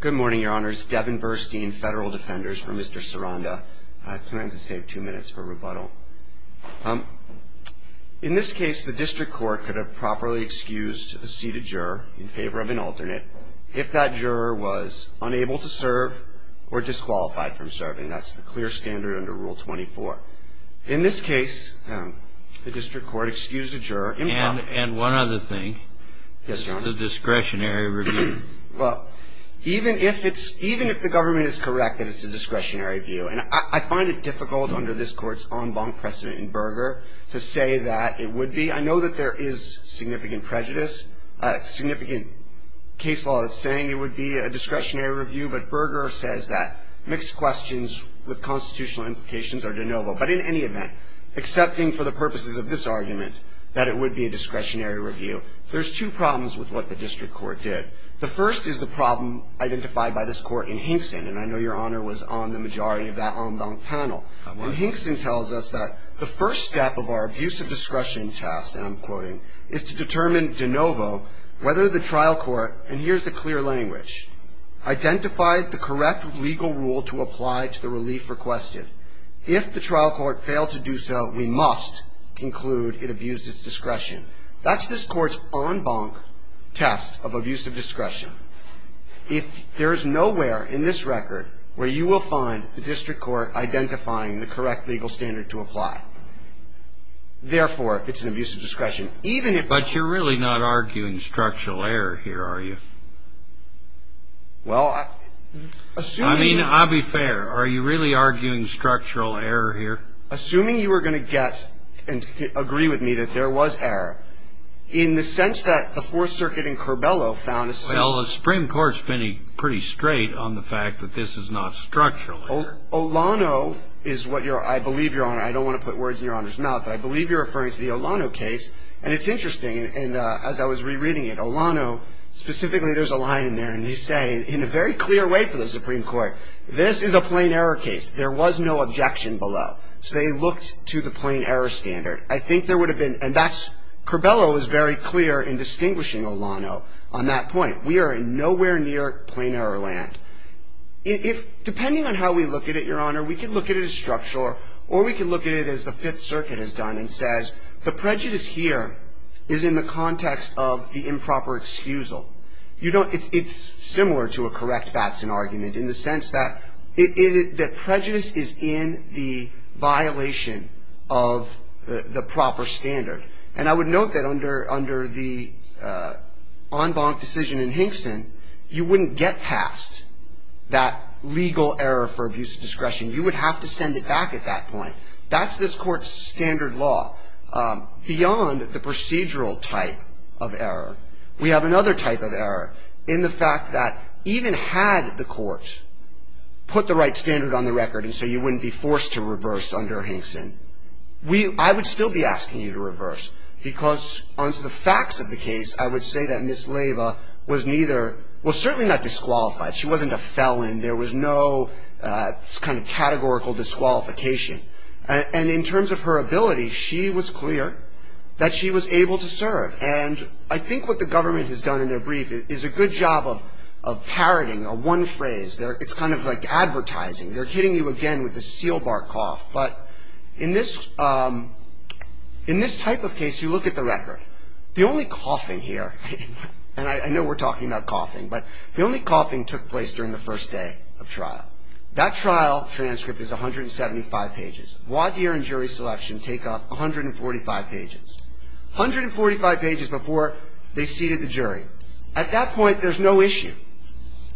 Good morning, Your Honors. Devin Burstein, Federal Defenders, for Mr. Ciranda. I plan to save two minutes for rebuttal. In this case, the District Court could have properly excused a seated juror in favor of an alternate if that juror was unable to serve or disqualified from serving. That's the clear standard under Rule 24. In this case, the District Court excused a juror in... And one other thing. Yes, Your Honor. The discretionary review. Well, even if the government is correct that it's a discretionary review, and I find it difficult under this Court's en banc precedent in Berger to say that it would be. I know that there is significant prejudice, significant case law that's saying it would be a discretionary review, but Berger says that mixed questions with constitutional implications are de novo. But in any event, accepting for the purposes of this argument that it would be a discretionary review, there's two problems with what the District Court did. The first is the problem identified by this Court in Hinkson, and I know Your Honor was on the majority of that en banc panel. When Hinkson tells us that the first step of our abuse of discretion task, and I'm quoting, is to determine de novo whether the trial court, and here's the clear language, identified the correct legal rule to apply to the relief requested. If the trial court failed to do so, we must conclude it abused its discretion. That's this Court's en banc test of abuse of discretion. If there is nowhere in this record where you will find the District Court identifying the correct legal standard to apply, therefore, it's an abuse of discretion. Even if you're really not arguing structural error here, are you? Well, assuming. I mean, I'll be fair. Are you really arguing structural error here? Assuming you are going to get and agree with me that there was error, in the sense that the Fourth Circuit in Curbelo found a... Well, the Supreme Court's been pretty straight on the fact that this is not structural error. Olano is what you're... I believe, Your Honor, I don't want to put words in Your Honor's mouth, but I believe you're referring to the Olano case, and it's interesting. And as I was rereading it, Olano, specifically, there's a line in there, and he's saying in a very clear way for the Supreme Court, this is a plain error case. There was no objection below, so they looked to the plain error standard. I think there would have been... And that's... Curbelo is very clear in distinguishing Olano on that point. We are in nowhere near plain error land. If... Depending on how we look at it, Your Honor, we could look at it as structural, or we could look at it as the Fifth Circuit has done and says, the prejudice here is in the context of the improper excusal. You don't... It's similar to a correct Batson argument, in the sense that prejudice is in the violation of the proper standard. And I would note that under the en banc decision in Hinkson, you wouldn't get past that legal error for abuse of discretion. You would have to send it back at that point. That's this Court's standard law. Beyond the procedural type of error, we have another type of error in the fact that, even had the Court put the right standard on the record and so you wouldn't be forced to reverse under Hinkson, I would still be asking you to reverse, because under the facts of the case, I would say that Ms. Leyva was neither... Well, certainly not disqualified. She wasn't a felon. There was no kind of categorical disqualification. And in terms of her ability, she was clear that she was able to serve. And I think what the government has done in their brief is a good job of parroting a one phrase. It's kind of like advertising. They're hitting you again with a seal bark cough. But in this type of case, you look at the record. The only coughing here, and I know we're talking about coughing, but the only coughing took place during the first day of trial. That trial transcript is 175 pages. Void year and jury selection take up 145 pages. 145 pages before they seated the jury. At that point, there's no issue.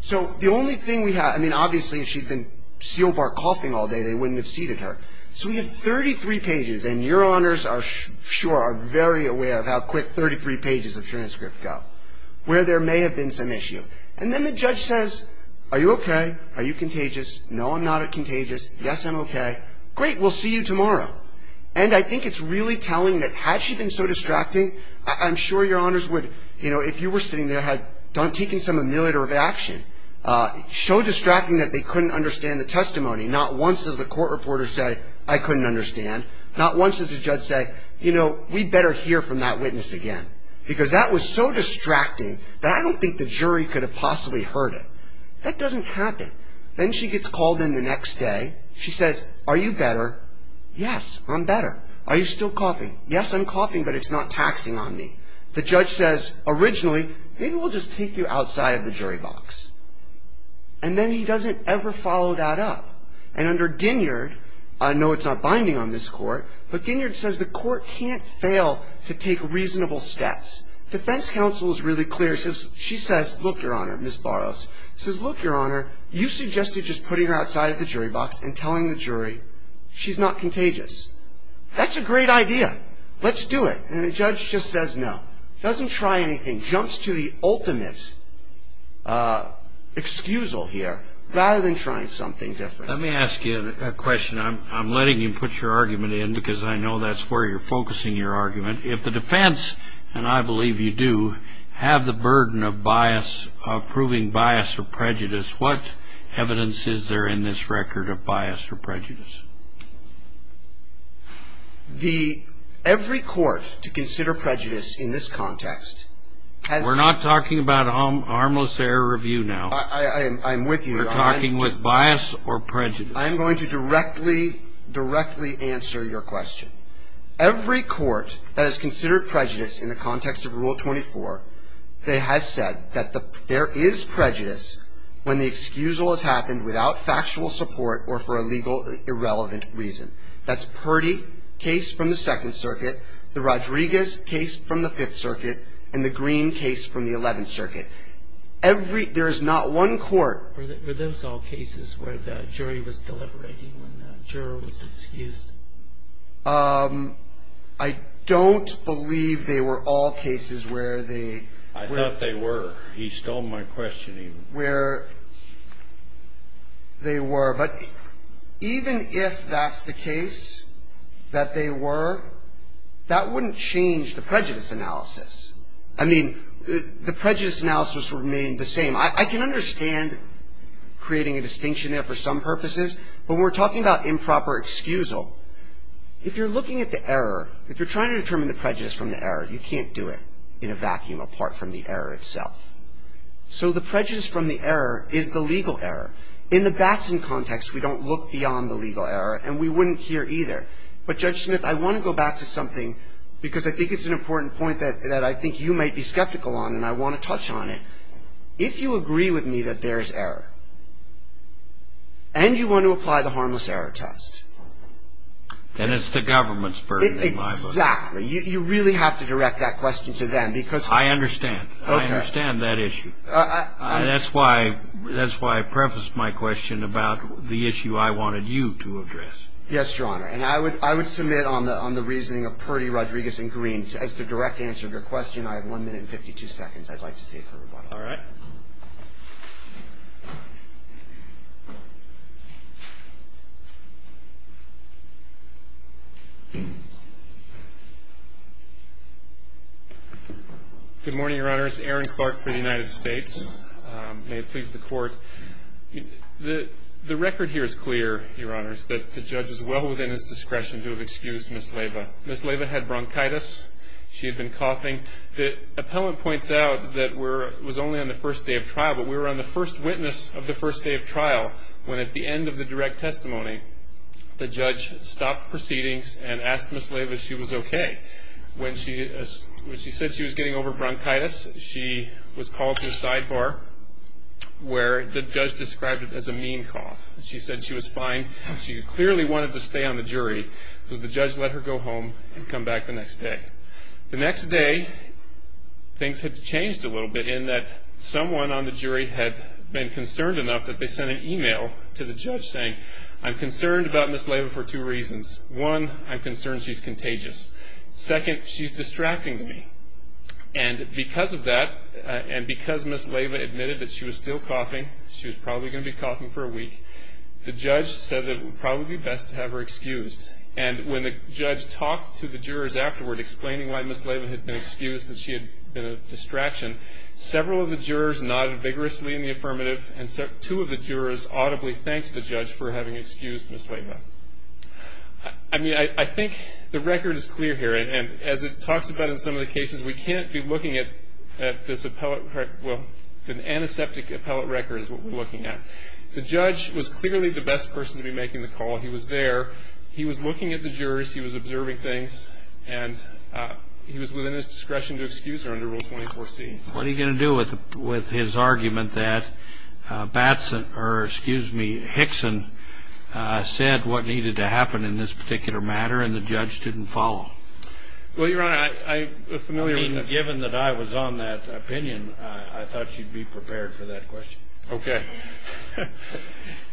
So the only thing we have... I mean, obviously, if she'd been seal bark coughing all day, they wouldn't have seated her. So we have 33 pages, and Your Honors are sure are very aware of how quick 33 pages of transcript go, where there may have been some issue. And then the judge says, Are you okay? Are you contagious? No, I'm not contagious. Yes, I'm okay. Great. We'll see you tomorrow. And I think it's really telling that had she been so distracting, I'm sure Your Honors would, you know, if you were sitting there had done taking some ameliorative action, so distracting that they couldn't understand the testimony. Not once does the court reporter say, I couldn't understand. Not once does the judge say, You know, we'd better hear from that witness again. Because that was so distracting, that I don't think the jury could have possibly heard it. That doesn't happen. Then she gets called in the next day. She says, Are you better? Yes, I'm better. Are you still coughing? Yes, I'm coughing, but it's not taxing on me. The judge says, Originally, maybe we'll just take you outside of the jury box. And then he doesn't ever follow that up. And under Ginyard, I know it's not binding on this court, but Ginyard says the court can't fail to take reasonable steps. Defense counsel is really clear. She says, Look, Your Honor, Ms. Burroughs says, Look, Your Honor, you suggested just putting her outside of the jury box and telling the jury she's not contagious. That's a great idea. Let's do it. And the judge just says, No. Doesn't try anything. Jumps to the ultimate excusal here, rather than trying something different. Let me ask you a question. I'm letting you put your argument in, because I know that's where you're focusing your argument. If the defense, and I believe you do, have the burden of bias, of proving bias or prejudice, what evidence is there in this record of bias or prejudice? The, every court to consider prejudice in this context has. We're not talking about harmless error review now. I'm with you. We're talking with bias or prejudice. I'm going to directly, directly answer your question. Every court that has considered prejudice in the context of Rule 24, has said that there is prejudice when the individual is not contagious. The excusal has happened without factual support or for a legal, irrelevant reason. That's Purdy, case from the Second Circuit, the Rodriguez case from the Fifth Circuit, and the Green case from the Eleventh Circuit. Every, there is not one court. Were those all cases where the jury was deliberating when the juror was excused? I don't believe they were all cases where they. I thought they were. He stole my question. Where they were, but even if that's the case that they were, that wouldn't change the prejudice analysis. I mean, the prejudice analysis would remain the same. I, I can understand creating a distinction there for some purposes, but when we're talking about improper excusal, if you're looking at the error, if you're trying to determine the prejudice from the error, you can't do it in a vacuum apart from the error itself. So the prejudice from the error is the legal error. In the Batson context, we don't look beyond the legal error, and we wouldn't here either. But Judge Smith, I want to go back to something, because I think it's an important point that, that I think you might be skeptical on, and I want to touch on it. If you agree with me that there is error, and you want to apply the harmless error test. Then it's the government's burden in my book. Exactly. You, you really have to direct that question to them, because. I understand. Okay. I understand that issue. That's why, that's why I prefaced my question about the issue I wanted you to address. Yes, Your Honor. And I would, I would submit on the, on the reasoning of Purdy, Rodriguez, and Green. As the direct answer to your question, I have 1 minute and 52 seconds I'd like to save for rebuttal. All right. Good morning, Your Honors. Aaron Clark for the United States. May it please the Court. The, the record here is clear, Your Honors, that the judge is well within his discretion to have excused Ms. Leyva. Ms. Leyva had bronchitis. She had been coughing. The appellant points out that we're, it was only on the first day of trial, but we were on the first witness of the first day of trial, when at the end of the direct testimony, the judge stopped proceedings and asked Ms. Leyva if she was okay. When she, when she said she was getting over bronchitis, she was called to a sidebar, where the judge described it as a mean cough. She said she was fine. She clearly wanted to stay on the jury, because the judge let her go home and come back the next day. The next day, things had changed a little bit, in that someone on the jury had been concerned enough that they sent an email to the judge, saying, I'm concerned about Ms. Leyva for two reasons. One, I'm concerned she's contagious. Second, she's distracting to me. And because of that, and because Ms. Leyva admitted that she was still coughing, she was probably going to be coughing for a week, the judge said that it would probably be best to have her excused. And when the judge talked to the jurors afterward, explaining why Ms. Leyva had been excused, that she had been a distraction, several of the jurors nodded vigorously in the affirmative, and two of the jurors audibly thanked the judge for having excused Ms. Leyva. I mean, I think the record is clear here, and as it talks about in some of the cases, we can't be looking at this appellate, well, an antiseptic appellate record is what we're looking at. The judge was clearly the best person to be making the call. He was there, he was looking at the jurors, he was observing things, and he was within his discretion to excuse her under Rule 24C. What are you going to do with his argument that Batson, or excuse me, Hickson said what needed to happen in this particular matter, and the judge didn't follow? Well, Your Honor, I was familiar with that. I mean, given that I was on that opinion, I thought you'd be prepared for that question. Okay.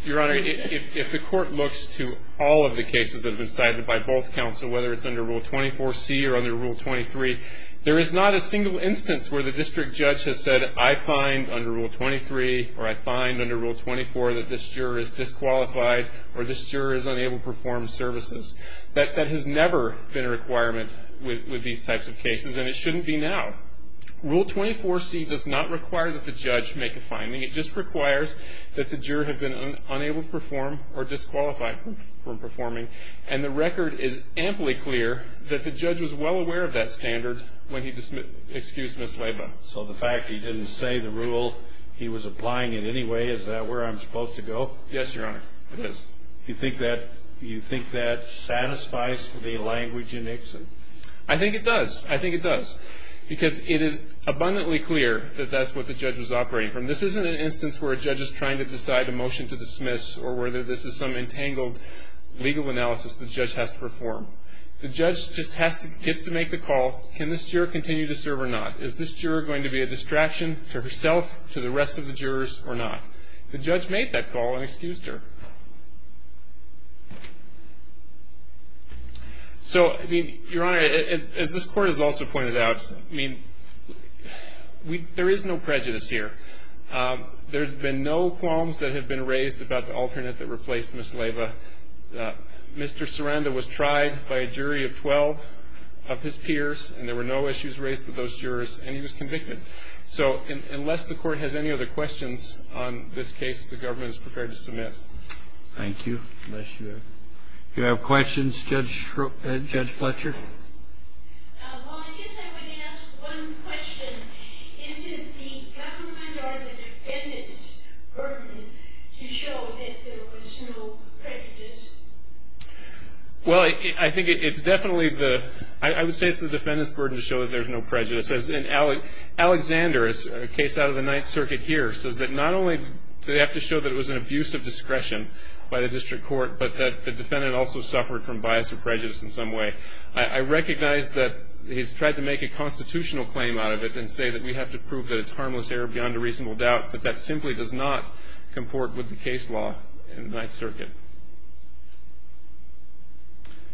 Your Honor, if the court looks to all of the cases that have been cited by both counsel, whether it's under Rule 24C or under Rule 23, there is not a single instance where the district judge has said, I find under Rule 23, or I find under Rule 24 that this juror is disqualified, or this juror is unable to perform services. That has never been a requirement with these types of cases, and it shouldn't be now. Rule 24C does not require that the judge make a finding. It just requires that the juror have been unable to perform or disqualified from performing, and the record is amply clear that the judge was well aware of that standard when he excused Ms. Laba. So the fact he didn't say the rule, he was applying it anyway, is that where I'm supposed to go? Yes, Your Honor, it is. Do you think that satisfies the language in Hickson? I think it does. I think it does, because it is abundantly clear that that's what the judge was operating from. This isn't an instance where a judge is trying to decide a motion to dismiss or whether this is some entangled legal analysis the judge has to perform. The judge just gets to make the call, can this juror continue to serve or not? Is this juror going to be a distraction to herself, to the rest of the jurors, or not? The judge made that call and excused her. So, Your Honor, as this Court has also pointed out, there is no prejudice here. There have been no qualms that have been raised about the alternate that replaced Ms. Laba. Mr. Saranda was tried by a jury of 12 of his peers, and there were no issues raised with those jurors, and he was convicted. So unless the Court has any other questions on this case, the government is prepared to submit. Thank you. Unless you have questions, Judge Fletcher? Well, I guess I would ask one question. Isn't the government or the defendants' burden to show that there was no prejudice? Well, I think it's definitely the, I would say it's the defendants' burden to show that there's no prejudice. As in Alexander, a case out of the Ninth Circuit here, says that not only do they have to show that it was an abuse of discretion by the District Court, but that the defendant also suffered from bias or prejudice in some way. I recognize that he's tried to make a constitutional claim out of it and say that we have to prove that it's harmless error beyond a reasonable doubt, but that simply does not comport with the case law in the Ninth Circuit.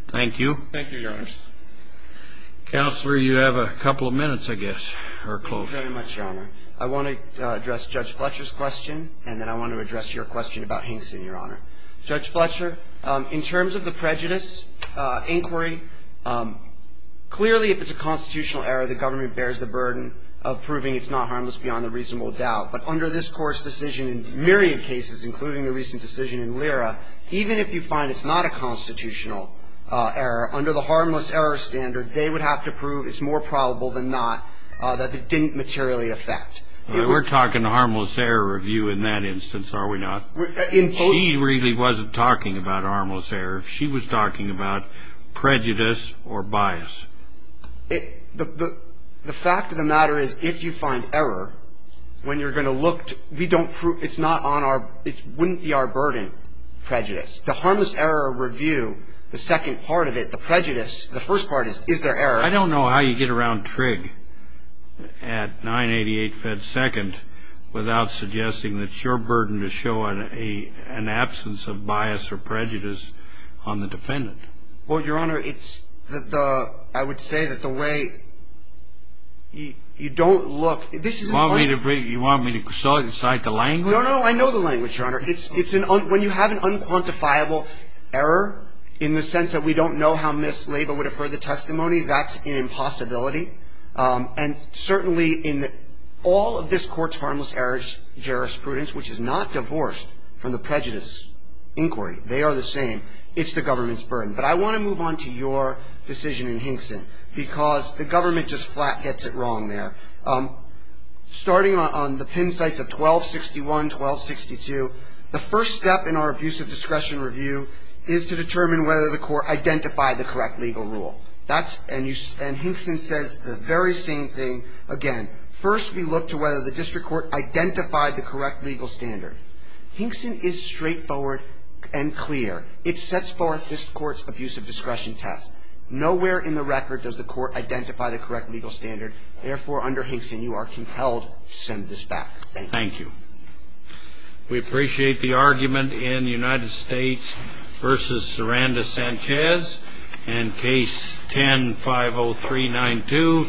Thank you. Thank you, Your Honors. Counselor, you have a couple of minutes, I guess, or close. Thank you very much, Your Honor. I want to address Judge Fletcher's question, and then I want to address your question about Hinkson, Your Honor. Judge Fletcher, in terms of the prejudice inquiry, clearly if it's a constitutional error, the government bears the burden of proving it's not harmless beyond a reasonable doubt. But under this Court's decision in myriad cases, including the recent decision in Lyra, even if you find it's not a constitutional error, under the harmless error standard, they would have to prove it's more probable than not that it didn't materially affect. We're talking harmless error review in that instance, are we not? She really wasn't talking about harmless error. She was talking about prejudice or bias. The fact of the matter is if you find error, when you're going to look, we don't prove it's not on our ‑‑ it wouldn't be our burden, prejudice. The harmless error review, the second part of it, the prejudice, the first part is, is there error? I don't know how you get around Trigg at 988 Fed Second without suggesting that it's your burden to show an absence of bias or prejudice on the defendant. Well, Your Honor, it's the ‑‑ I would say that the way you don't look. You want me to cite the language? No, no, I know the language, Your Honor. When you have an unquantifiable error, in the sense that we don't know how Ms. Laba would have heard the testimony, that's an impossibility. And certainly in all of this court's harmless error jurisprudence, which is not divorced from the prejudice inquiry, they are the same, it's the government's burden. But I want to move on to your decision in Hinkson, because the government just flat gets it wrong there. Starting on the pin sites of 1261, 1262, the first step in our abuse of discretion review is to determine whether the court identified the correct legal rule. And Hinkson says the very same thing again. First, we look to whether the district court identified the correct legal standard. Hinkson is straightforward and clear. It sets forth this court's abuse of discretion test. Nowhere in the record does the court identify the correct legal standard. Therefore, under Hinkson, you are compelled to send this back. Thank you. We appreciate the argument in United States versus Saranda Sanchez. And case 10-50392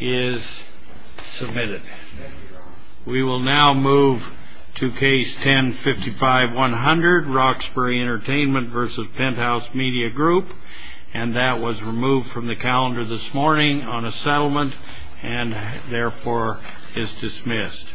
is submitted. We will now move to case 10-55100, Roxbury Entertainment versus Penthouse Media Group. And that was removed from the calendar this morning on a settlement and therefore is dismissed.